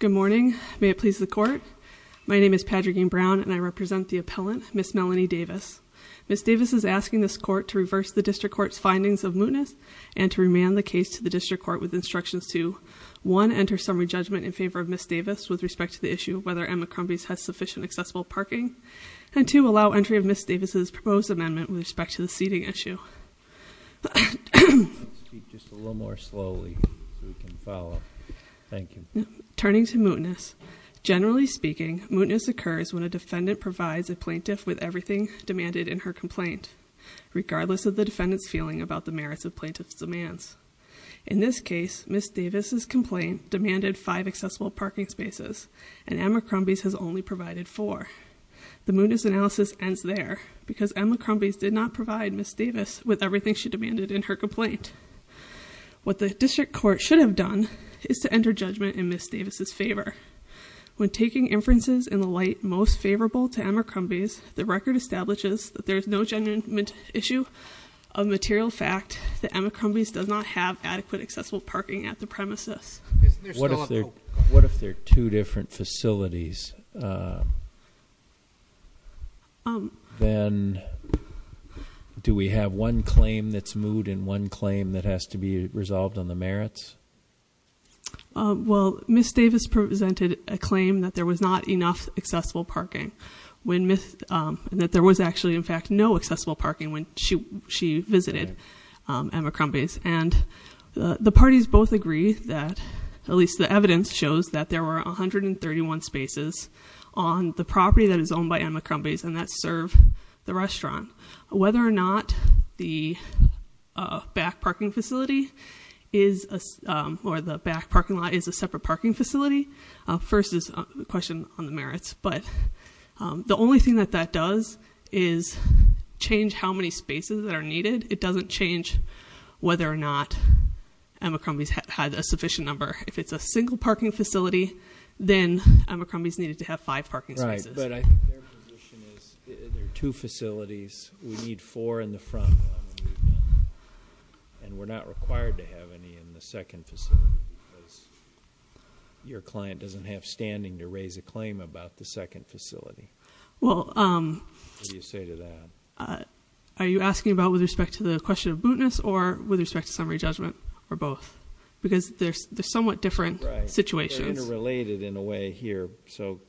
Good morning. May it please the court. My name is Patrick Brown and I represent the appellant, Ms. Melanie Davis. Ms. Davis is asking this court to reverse the district court's findings of mootness and to remand the case to the district court with instructions to, one, enter summary judgment in favor of Ms. Davis with respect to the issue of whether Emma Crumby's has sufficient accessible parking. And two, allow entry of Ms. Davis' proposed amendment with respect to the seating issue. Let's speak just a little more slowly so we can follow. Thank you. Turning to mootness. Generally speaking, mootness occurs when a defendant provides a plaintiff with everything demanded in her complaint, regardless of the defendant's feeling about the merits of plaintiff's demands. In this case, Ms. Davis' complaint demanded five accessible parking spaces, and Emma Crumby's has only provided four. The mootness analysis ends there, because Emma Crumby's did not provide Ms. Davis with everything she demanded in her complaint. What the district court should have done is to enter judgment in Ms. Davis' favor. When taking inferences in the light most favorable to Emma Crumby's, the record establishes that there is no genuine issue of material fact that Emma Crumby's does not have adequate accessible parking at the premises. What if there are two different facilities? Then do we have one claim that's moot and one claim that has to be resolved on the merits? Well, Ms. Davis presented a claim that there was not enough accessible parking. When Ms., that there was actually in fact no accessible parking when she visited Emma Crumby's. And the parties both agree that, at least the evidence shows that there were 131 spaces on the property that is owned by Emma Crumby's and that serve the restaurant. Whether or not the back parking facility is, or the back parking lot is a separate parking facility, first is a question on the merits. But the only thing that that does is change how many spaces that are needed. It doesn't change whether or not Emma Crumby's had a sufficient number. If it's a single parking facility, then Emma Crumby's needed to have five parking spaces. Right, but I think their position is there are two facilities. We need four in the front, and we're not required to have any in the second facility, because your client doesn't have standing to raise a claim about the second facility. Well. What do you say to that? Are you asking about with respect to the question of mootness or with respect to summary judgment or both? Because they're somewhat different situations. Interrelated in a way here, so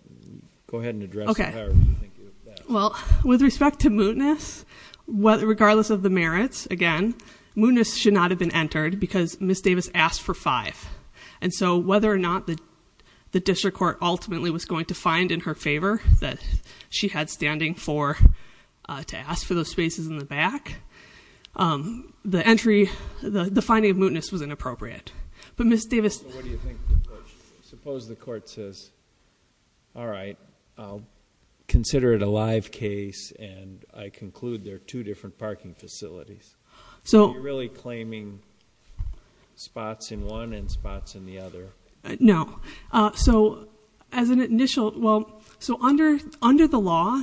go ahead and address it however you think is best. Well, with respect to mootness, regardless of the merits, again, mootness should not have been entered because Ms. Davis asked for five. And so whether or not the district court ultimately was going to find in her favor that she had standing for to ask for those spaces in the back, the finding of mootness was inappropriate. But Ms. Davis- What do you think the court, suppose the court says, all right, I'll consider it a live case and I conclude there are two different parking facilities. So- You're really claiming spots in one and spots in the other. No. So as an initial, well, so under the law,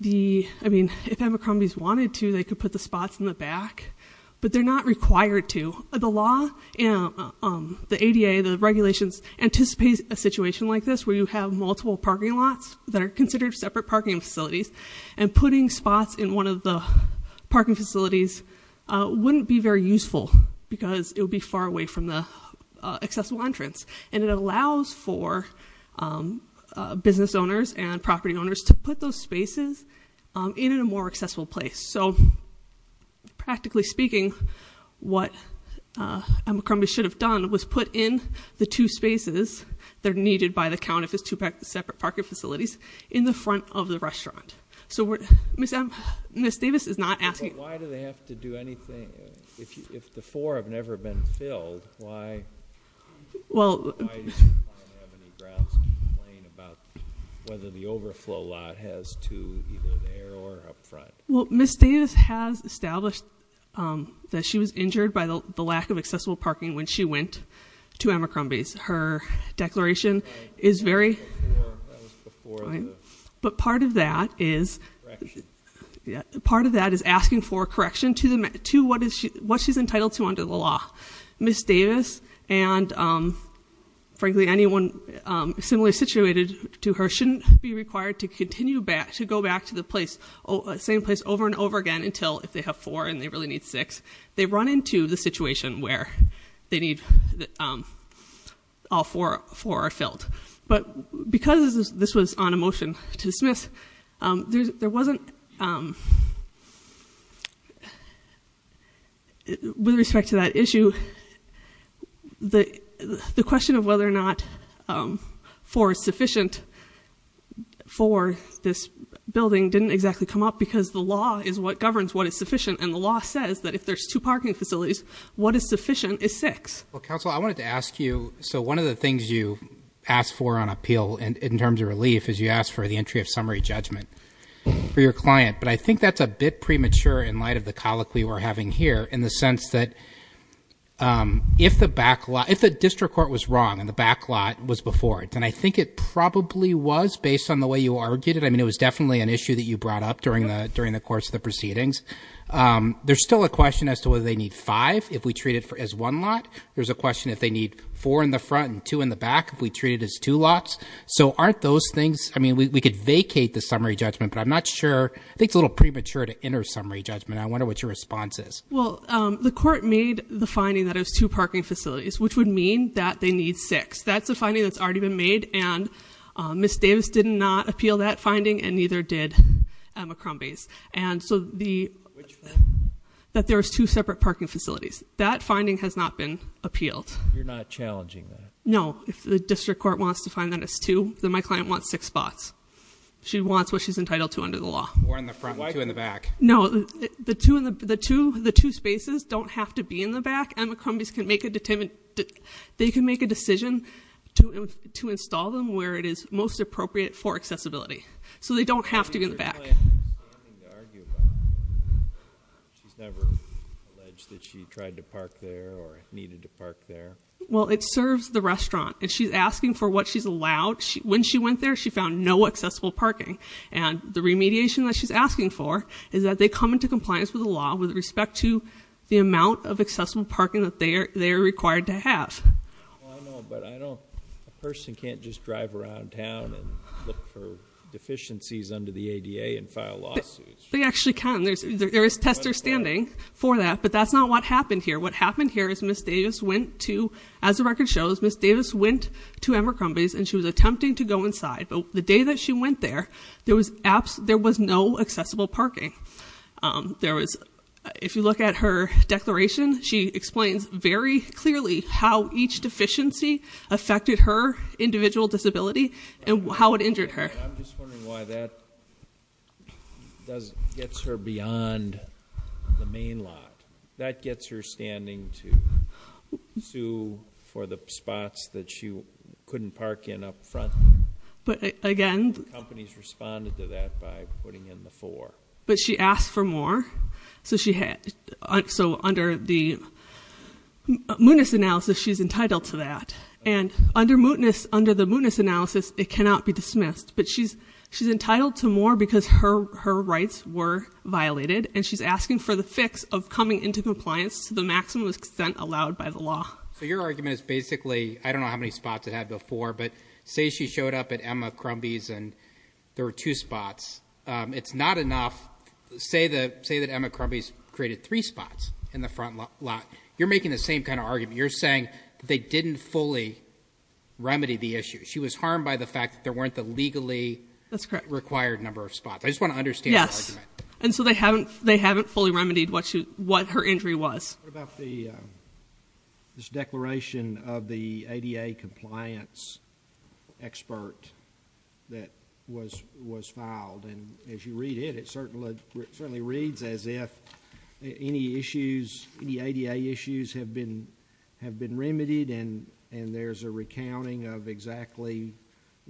the, I mean, if Abercrombie's wanted to, they could put the spots in the back. But they're not required to. The law, the ADA, the regulations, anticipates a situation like this, where you have multiple parking lots that are considered separate parking facilities. And putting spots in one of the parking facilities wouldn't be very useful, because it would be far away from the accessible entrance. And it allows for business owners and property owners to put those spaces in a more accessible place. So, practically speaking, what Abercrombie should have done was put in the two spaces that are needed by the count of his two separate parking facilities in the front of the restaurant. So Ms. Davis is not asking- But why do they have to do anything, if the four have never been filled, why- Well- Why do you have any grounds to complain about whether the overflow lot has two either there or up front? Well, Ms. Davis has established that she was injured by the lack of accessible parking when she went to Abercrombie's. Her declaration is very- That was before the- But part of that is- Correction. Yeah, part of that is asking for a correction to what she's entitled to under the law. Ms. Davis and frankly, anyone similarly situated to her, shouldn't be required to continue back, to go back to the same place over and over again until if they have four and they really need six. They run into the situation where they need all four are filled. But because this was on a motion to dismiss, there wasn't, with respect to that issue, the question of whether or not four is sufficient for this building didn't exactly come up because the law is what governs what is sufficient. And the law says that if there's two parking facilities, what is sufficient is six. Well, counsel, I wanted to ask you, so one of the things you asked for on appeal in terms of relief is you asked for the entry of summary judgment for your client, but I think that's a bit premature in light of the colloquy we're having here. In the sense that if the district court was wrong and the back lot was before it. And I think it probably was based on the way you argued it. I mean, it was definitely an issue that you brought up during the course of the proceedings. There's still a question as to whether they need five if we treat it as one lot. There's a question if they need four in the front and two in the back if we treat it as two lots. So aren't those things, I mean, we could vacate the summary judgment, but I'm not sure, I think it's a little premature to enter summary judgment. I wonder what your response is. Well, the court made the finding that it was two parking facilities, which would mean that they need six. That's a finding that's already been made, and Ms. Davis did not appeal that finding, and neither did McCrombie's. And so the, that there was two separate parking facilities. That finding has not been appealed. You're not challenging that. No, if the district court wants to find that it's two, then my client wants six spots. She wants what she's entitled to under the law. One in the front, two in the back. No, the two spaces don't have to be in the back. And McCrombie's can make a, they can make a decision to install them where it is most appropriate for accessibility. So they don't have to be in the back. She's never alleged that she tried to park there or needed to park there. Well, it serves the restaurant. And she's asking for what she's allowed. When she went there, she found no accessible parking. And the remediation that she's asking for is that they come into compliance with the law with respect to the amount of accessible parking that they are required to have. Well, I know, but I don't, a person can't just drive around town and look for deficiencies under the ADA and file lawsuits. They actually can, there is testers standing for that, but that's not what happened here. What happened here is Ms. Davis went to, as the record shows, Ms. Davis went to Ember Crumbie's and she was attempting to go inside. But the day that she went there, there was no accessible parking. There was, if you look at her declaration, she explains very clearly how each deficiency affected her individual disability and how it injured her. I'm just wondering why that gets her beyond the main lot. That gets her standing to sue for the spots that she couldn't park in up front. But again- Companies responded to that by putting in the four. But she asked for more, so under the mootness analysis, she's entitled to that. And under the mootness analysis, it cannot be dismissed. But she's entitled to more because her rights were violated, and she's asking for the fix of coming into compliance to the maximum extent allowed by the law. So your argument is basically, I don't know how many spots it had before, but say she showed up at Emma Crumbie's and there were two spots. It's not enough, say that Emma Crumbie's created three spots in the front lot. You're making the same kind of argument. You're saying that they didn't fully remedy the issue. She was harmed by the fact that there weren't the legally required number of spots. I just want to understand the argument. And so they haven't fully remedied what her injury was. What about this declaration of the ADA compliance expert that was filed? And as you read it, it certainly reads as if any ADA issues have been remedied. And there's a recounting of exactly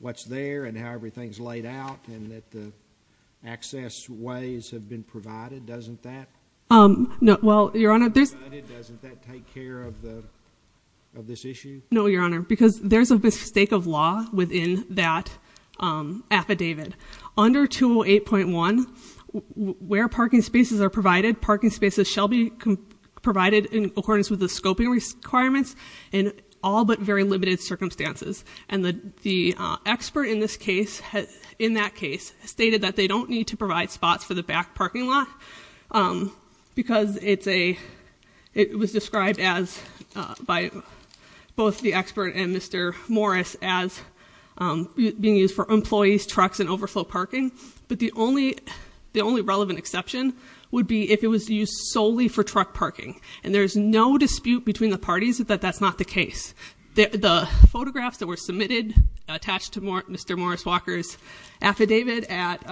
what's there and how everything's laid out. And that the access ways have been provided, doesn't that? No, well, Your Honor, there's- Provided, doesn't that take care of this issue? No, Your Honor, because there's a mistake of law within that affidavit. Under 208.1, where parking spaces are provided, parking spaces shall be provided in accordance with the scoping requirements in all but very limited circumstances. And the expert in that case stated that they don't need to provide spots for the back parking lot. Because it was described by both the expert and Mr. Morris as being used for employees, trucks, and overflow parking. But the only relevant exception would be if it was used solely for truck parking. And there's no dispute between the parties that that's not the case. The photographs that were submitted attached to Mr. Morris Walker's affidavit at,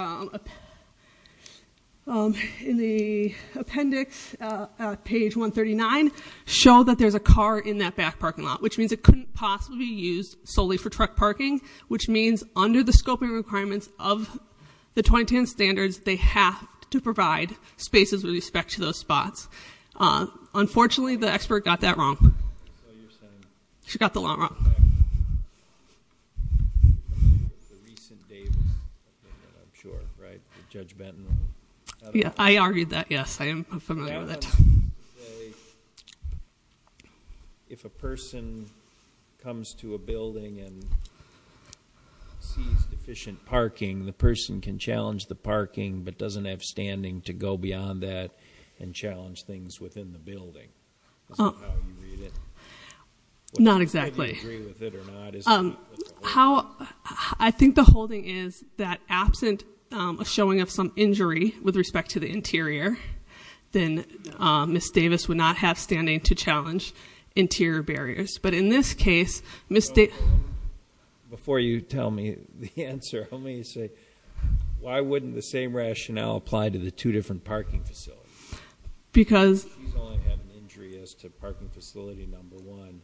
in the appendix at page 139 show that there's a car in that back parking lot. Which means it couldn't possibly be used solely for truck parking. Which means under the scoping requirements of the 2010 standards, they have to provide spaces with respect to those spots. Unfortunately, the expert got that wrong. She got the wrong one. I'm sure, right, that Judge Benton- Yeah, I argued that, yes, I am familiar with that. If a person comes to a building and sees deficient parking, the person can challenge the parking but doesn't have standing to go beyond that and challenge things within the building. Is that how you read it? Not exactly. I don't know if you agree with it or not. I think the holding is that absent a showing of some injury with respect to the interior, then Ms. Davis would not have standing to challenge interior barriers. But in this case, Ms. Davis- Before you tell me the answer, let me say, why wouldn't the same rationale apply to the two different parking facilities? Because- She's only had an injury as to parking facility number one,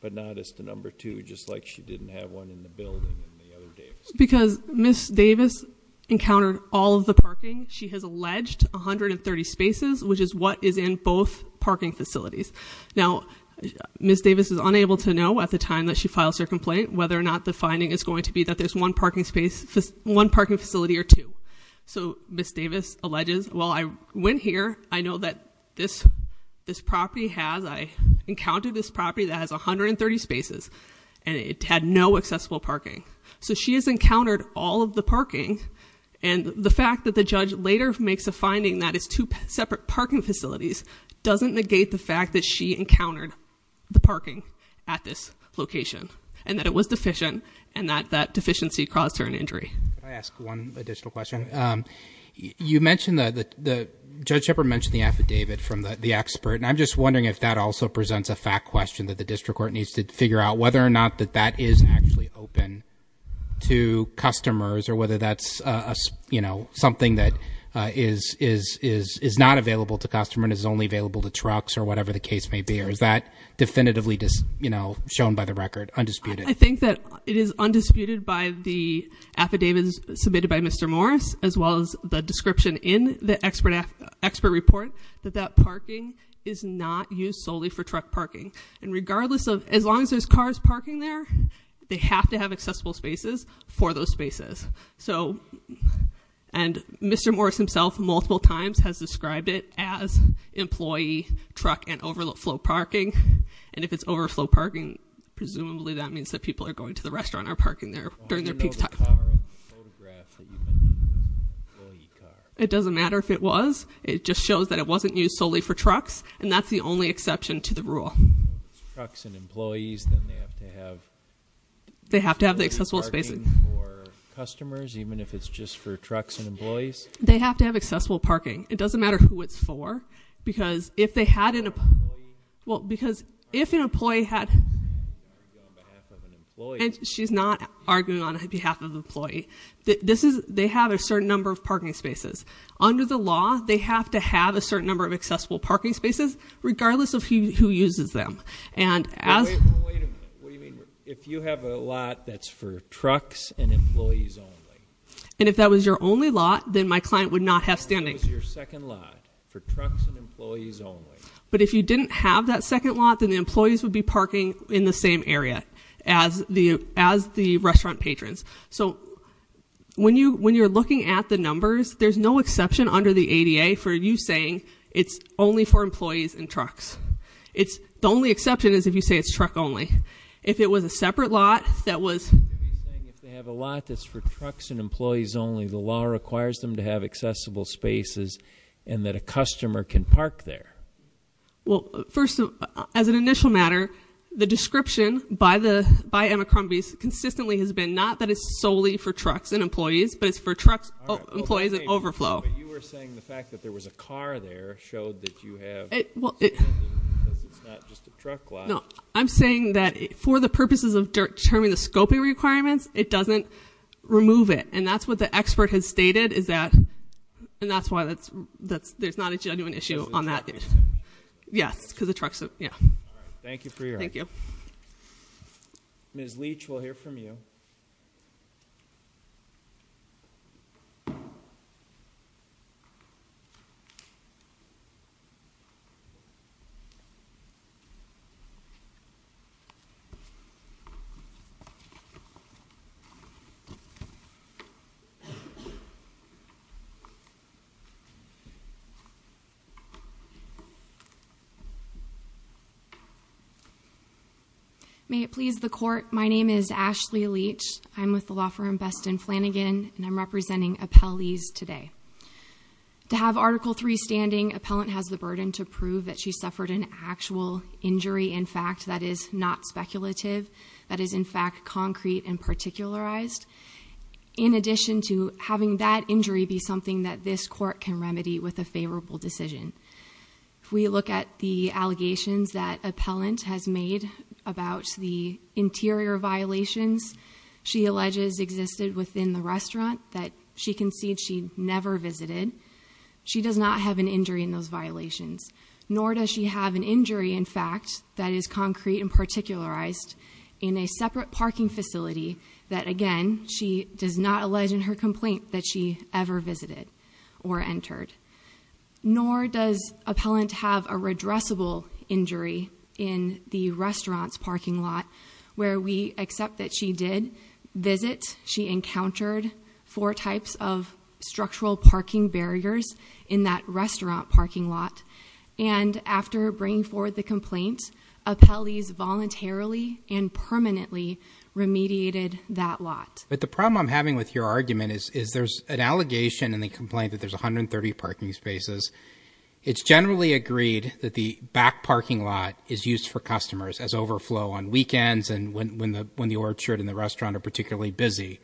but not as to number two, just like she didn't have one in the building in the other day. Because Ms. Davis encountered all of the parking. She has alleged 130 spaces, which is what is in both parking facilities. Now, Ms. Davis is unable to know at the time that she files her complaint whether or not the finding is going to be that there's one parking facility or two. So Ms. Davis alleges, well, I went here, I know that this property has, I encountered this property that has 130 spaces, and it had no accessible parking. So she has encountered all of the parking, and the fact that the judge later makes a finding that it's two separate parking facilities doesn't negate the fact that she encountered the parking at this location, and that it was deficient, and that that deficiency caused her an injury. I ask one additional question. You mentioned, Judge Shepard mentioned the affidavit from the expert, and I'm just wondering if that also presents a fact question that the district court needs to figure out whether or not that that is actually open to customers, or whether that's something that is not available to customers and is only available to trucks or whatever the case may be, or is that definitively shown by the record, undisputed? I think that it is undisputed by the affidavits submitted by Mr. Morris, as well as the description in the expert report, that that parking is not used solely for truck parking. And regardless of, as long as there's cars parking there, they have to have accessible spaces for those spaces. So, and Mr. Morris himself multiple times has described it as employee truck and overflow parking. And if it's overflow parking, presumably that means that people are going to the restaurant or parking there during their peak time. I don't know the car photograph that you put in, the employee car. It doesn't matter if it was. It just shows that it wasn't used solely for trucks, and that's the only exception to the rule. If it's trucks and employees, then they have to have accessible parking for customers, even if it's just for trucks and employees? They have to have accessible parking. It doesn't matter who it's for. Because if they had an, well, because if an employee had. And she's not arguing on behalf of the employee. This is, they have a certain number of parking spaces. Under the law, they have to have a certain number of accessible parking spaces, regardless of who uses them. And as- Wait a minute, what do you mean, if you have a lot that's for trucks and employees only? And if that was your only lot, then my client would not have standing. That is your second lot for trucks and employees only. But if you didn't have that second lot, then the employees would be parking in the same area as the restaurant patrons. So when you're looking at the numbers, there's no exception under the ADA for you saying it's only for employees and trucks. It's the only exception is if you say it's truck only. If it was a separate lot that was- And that a customer can park there. Well, first, as an initial matter, the description by Emma Crumby's consistently has been not that it's solely for trucks and employees. But it's for trucks, employees, and overflow. But you were saying the fact that there was a car there showed that you have, because it's not just a truck lot. No, I'm saying that for the purposes of determining the scoping requirements, it doesn't remove it. And that's what the expert has stated, is that, and that's why there's not a genuine issue on that. Yes, because the trucks, yeah. Thank you for your- Thank you. Ms. Leach, we'll hear from you. May it please the court, my name is Ashley Leach. I'm with the law firm Best and Flanagan, and I'm representing appellees today. To have Article 3 standing, appellant has the burden to prove that she suffered an actual injury. In fact, that is not speculative. That is, in fact, concrete and particularized. In addition to having that injury be something that this court can remedy with a favorable decision. If we look at the allegations that appellant has made about the interior violations, she alleges existed within the restaurant that she concedes she never visited. She does not have an injury in those violations, nor does she have an injury, in fact, that is concrete and particularized in a separate parking facility that, again, she does not allege in her complaint that she ever visited or entered. Nor does appellant have a redressable injury in the restaurant's parking lot where we accept that she did visit. She encountered four types of structural parking barriers in that restaurant parking lot. And after bringing forward the complaint, appellees voluntarily and permanently remediated that lot. But the problem I'm having with your argument is there's an allegation in the complaint that there's 130 parking spaces. It's generally agreed that the back parking lot is used for customers as overflow on weekends and when the orchard and the restaurant are particularly busy.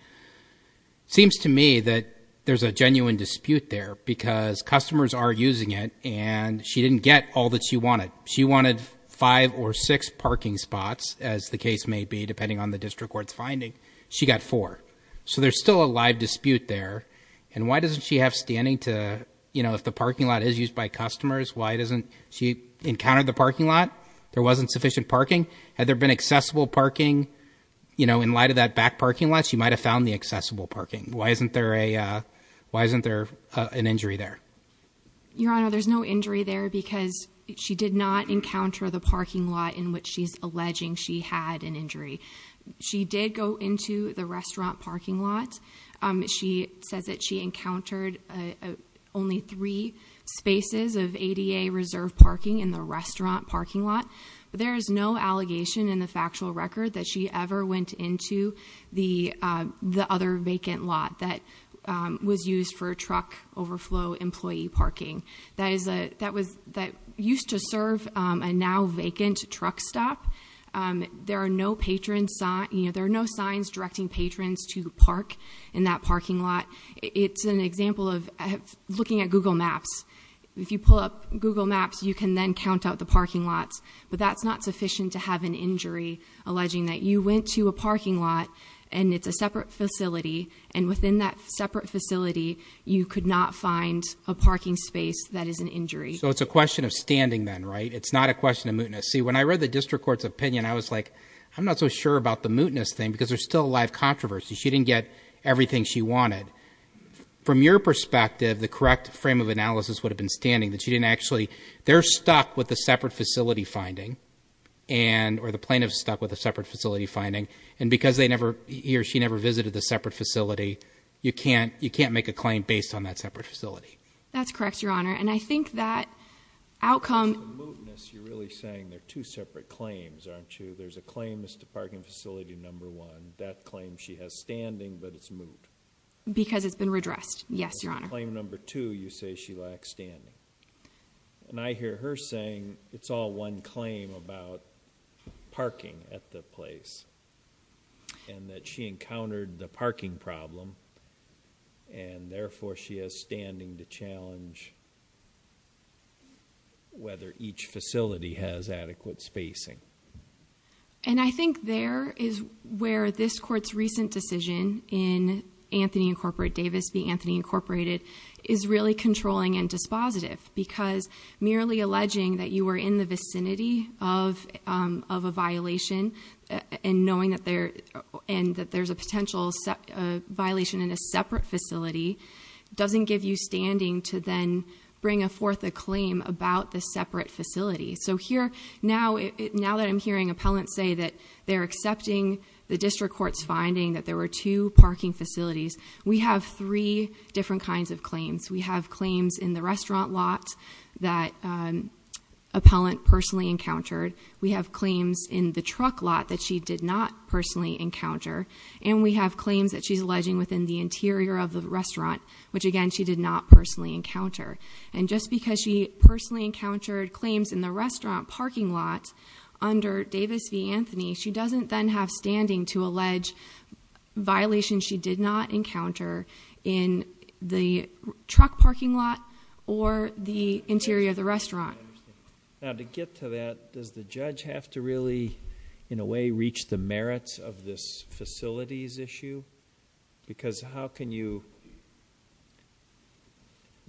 Seems to me that there's a genuine dispute there because customers are using it and she didn't get all that she wanted. She wanted five or six parking spots, as the case may be, depending on the district court's finding. She got four. So there's still a live dispute there. And why doesn't she have standing to, if the parking lot is used by customers, why doesn't she encounter the parking lot? There wasn't sufficient parking? Had there been accessible parking in light of that back parking lot, she might have found the accessible parking. Why isn't there an injury there? Your Honor, there's no injury there because she did not encounter the parking lot in which she's alleging she had an injury. She did go into the restaurant parking lot. She says that she encountered only three spaces of ADA reserve parking in the restaurant parking lot. There is no allegation in the factual record that she ever went into the other vacant lot that was used for truck overflow employee parking that used to serve a now vacant truck stop. There are no signs directing patrons to park in that parking lot. It's an example of looking at Google Maps. If you pull up Google Maps, you can then count out the parking lots. But that's not sufficient to have an injury alleging that you went to a parking lot and it's a separate facility, and within that separate facility, you could not find a parking space that is an injury. So it's a question of standing then, right? It's not a question of mootness. See, when I read the district court's opinion, I was like, I'm not so sure about the mootness thing because there's still a lot of controversy. She didn't get everything she wanted. From your perspective, the correct frame of analysis would have been standing, that she didn't actually, they're stuck with a separate facility finding, or the plaintiff's stuck with a separate facility finding. And because they never, he or she never visited the separate facility, you can't make a claim based on that separate facility. That's correct, Your Honor, and I think that outcome- So the mootness, you're really saying they're two separate claims, aren't you? There's a claim as to parking facility number one, that claim she has standing, but it's moot. Because it's been redressed. Yes, Your Honor. Claim number two, you say she lacks standing. And I hear her saying it's all one claim about parking at the place. And that she encountered the parking problem, and therefore she has standing to challenge whether each facility has adequate spacing. And I think there is where this court's recent decision in Anthony Incorporated, Davis v. Anthony Incorporated, is really controlling and dispositive. Because merely alleging that you were in the vicinity of a violation and knowing that there's a potential violation in a separate facility doesn't give you standing to then bring forth a claim about the separate facility. So here, now that I'm hearing appellants say that they're accepting the district court's finding that there were two parking facilities. We have three different kinds of claims. We have claims in the restaurant lot that appellant personally encountered. We have claims in the truck lot that she did not personally encounter. And we have claims that she's alleging within the interior of the restaurant, which again, she did not personally encounter. And just because she personally encountered claims in the restaurant parking lot under Davis v. Anthony, she doesn't then have standing to allege violations she did not encounter in the truck parking lot or the interior of the restaurant. Now to get to that, does the judge have to really, in a way, reach the merits of this facilities issue? Because how can you,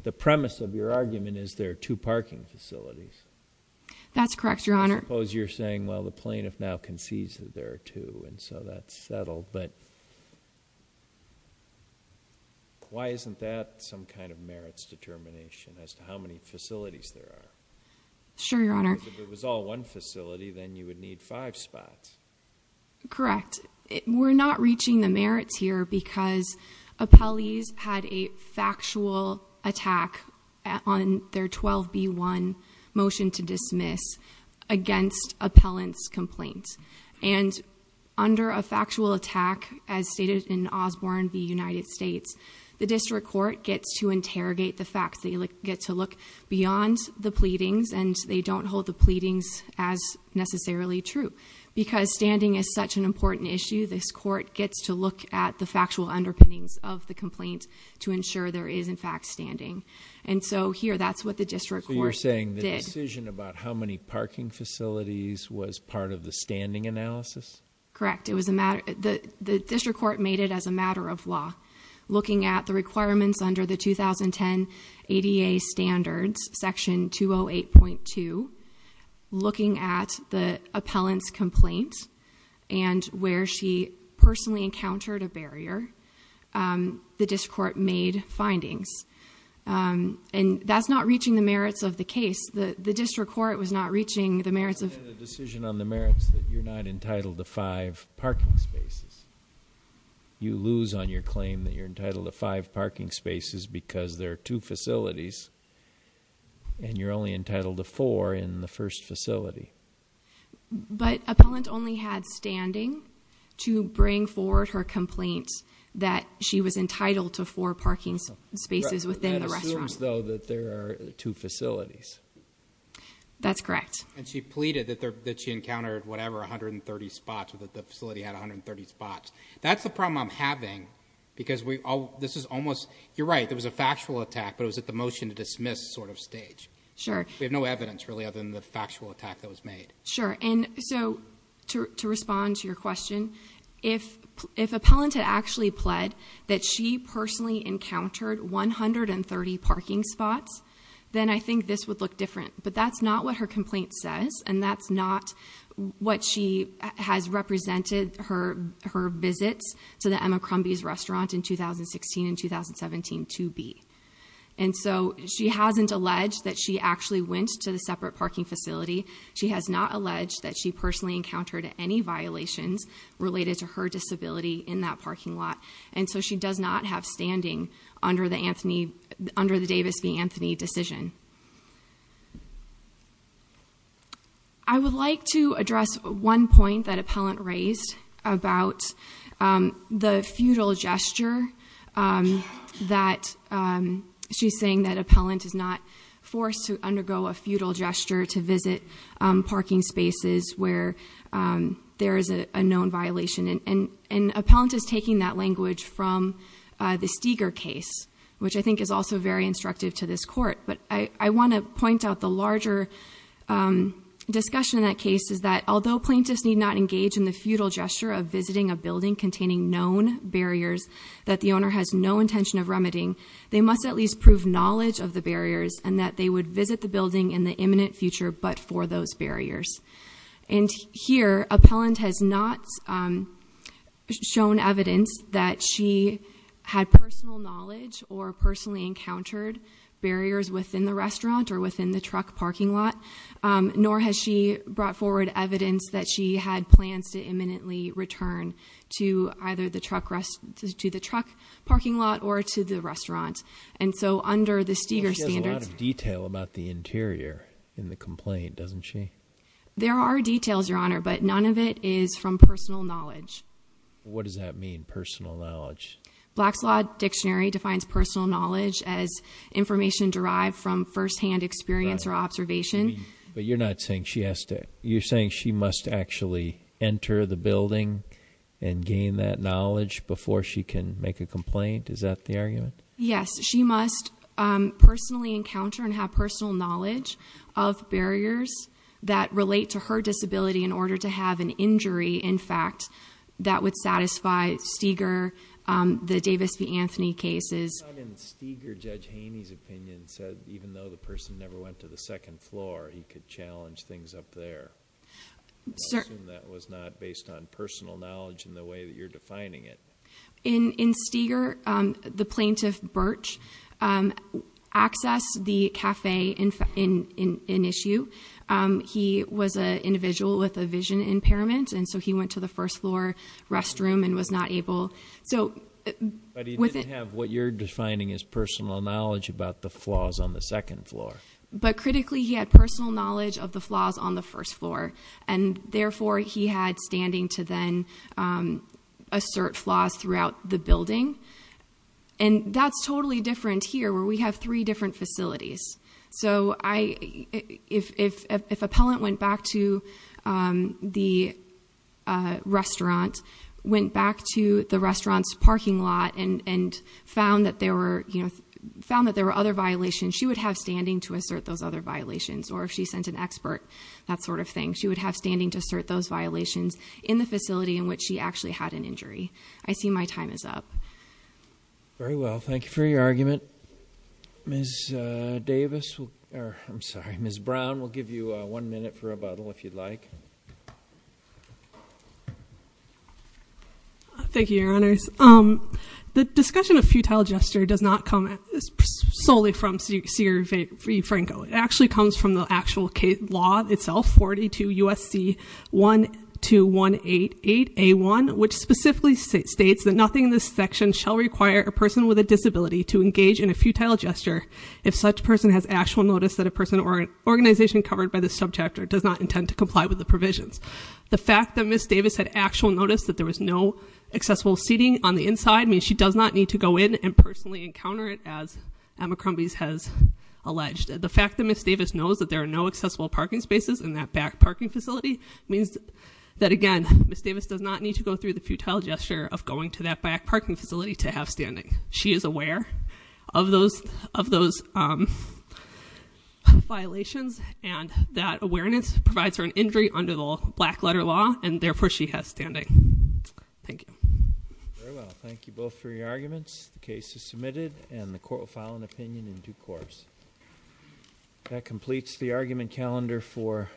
the premise of your argument is there are two parking facilities. That's correct, your honor. I suppose you're saying, well, the plaintiff now concedes that there are two, and so that's settled. But why isn't that some kind of merits determination as to how many facilities there are? Sure, your honor. If it was all one facility, then you would need five spots. Correct. We're not reaching the merits here because appellees had a factual attack on their 12B1 motion to dismiss against appellant's complaint. And under a factual attack, as stated in Osborne v. United States, the district court gets to interrogate the facts. They get to look beyond the pleadings, and they don't hold the pleadings as necessarily true. Because standing is such an important issue, this court gets to look at the factual underpinnings of the complaint to ensure there is, in fact, standing. And so here, that's what the district court did. So you're saying the decision about how many parking facilities was part of the standing analysis? Correct, the district court made it as a matter of law. Looking at the requirements under the 2010 ADA standards, section 208.2, looking at the appellant's complaint, and where she personally encountered a barrier, the district court made findings. And that's not reaching the merits of the case. The district court was not reaching the merits of- You made a decision on the merits that you're not entitled to five parking spaces. You lose on your claim that you're entitled to five parking spaces because there are two facilities. And you're only entitled to four in the first facility. But appellant only had standing to bring forward her complaint that she was entitled to four parking spaces within the restaurant. That assumes, though, that there are two facilities. That's correct. And she pleaded that she encountered whatever, 130 spots, or that the facility had 130 spots. That's the problem I'm having, because this is almost, you're right, there was a factual attack, but it was at the motion to dismiss sort of stage. We have no evidence, really, other than the factual attack that was made. Sure, and so to respond to your question, if appellant had actually pled that she personally encountered 130 parking spots, then I think this would look different. But that's not what her complaint says, and that's not what she has represented her visits to the Emma Crumby's restaurant in 2016 and 2017 to be. And so she hasn't alleged that she actually went to the separate parking facility. She has not alleged that she personally encountered any violations related to her disability in that parking lot. And so she does not have standing under the Davis v Anthony decision. I would like to address one point that appellant raised about the futile gesture that she's saying that appellant is not forced to undergo a futile gesture to visit parking spaces where there is a known violation. And appellant is taking that language from the Steger case, which I think is also very instructive to this court. But I want to point out the larger discussion in that case is that although plaintiffs need not engage in the futile gesture of visiting a building containing known barriers. That the owner has no intention of remedying. They must at least prove knowledge of the barriers and that they would visit the building in the imminent future but for those barriers. And here, appellant has not shown evidence that she had personal knowledge or personally encountered barriers within the restaurant or within the truck parking lot. Nor has she brought forward evidence that she had plans to imminently return to either the truck parking lot or to the restaurant. And so under the Steger standards- She has a lot of detail about the interior in the complaint, doesn't she? There are details, your honor, but none of it is from personal knowledge. What does that mean, personal knowledge? Black's Law Dictionary defines personal knowledge as information derived from first hand experience or observation. But you're not saying she has to, you're saying she must actually enter the building and gain that knowledge before she can make a complaint, is that the argument? Yes, she must personally encounter and have personal knowledge of that would satisfy Steger, the Davis v. Anthony cases. In Steger, Judge Haney's opinion said even though the person never went to the second floor, he could challenge things up there. I assume that was not based on personal knowledge in the way that you're defining it. In Steger, the plaintiff, Birch, accessed the cafe in issue. He was an individual with a vision impairment, and so he went to the first floor restroom and was not able. So- But he didn't have what you're defining as personal knowledge about the flaws on the second floor. But critically, he had personal knowledge of the flaws on the first floor. And therefore, he had standing to then assert flaws throughout the building. And that's totally different here, where we have three different facilities. So if appellant went back to the restaurant, went back to the restaurant's parking lot and found that there were other violations, she would have standing to assert those other violations, or if she sent an expert, that sort of thing. She would have standing to assert those violations in the facility in which she actually had an injury. I see my time is up. Very well, thank you for your argument. Ms. Davis, or I'm sorry, Ms. Brown, we'll give you one minute for rebuttal, if you'd like. Thank you, your honors. The discussion of futile gesture does not come solely from Sierra V Franco. It actually comes from the actual case law itself, 42 USC 12188A1, which specifically states that nothing in this section shall require a person with a disability to engage in a futile gesture if such person has actual notice that a person or an organization covered by this subject does not intend to comply with the provisions. The fact that Ms. Davis had actual notice that there was no accessible seating on the inside means she does not need to go in and personally encounter it as Emma Crumbies has alleged. The fact that Ms. Davis knows that there are no accessible parking spaces in that back parking facility means that again, Ms. Davis does not need to go through the futile gesture of going to that back parking facility to have standing. She is aware of those violations and that awareness provides her an injury under the black letter law and therefore she has standing. Thank you. Very well, thank you both for your arguments. The case is submitted and the court will file an opinion in due course. That completes the argument calendar for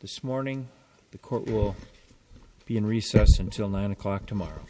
this morning. The court will be in recess until 9 o'clock tomorrow.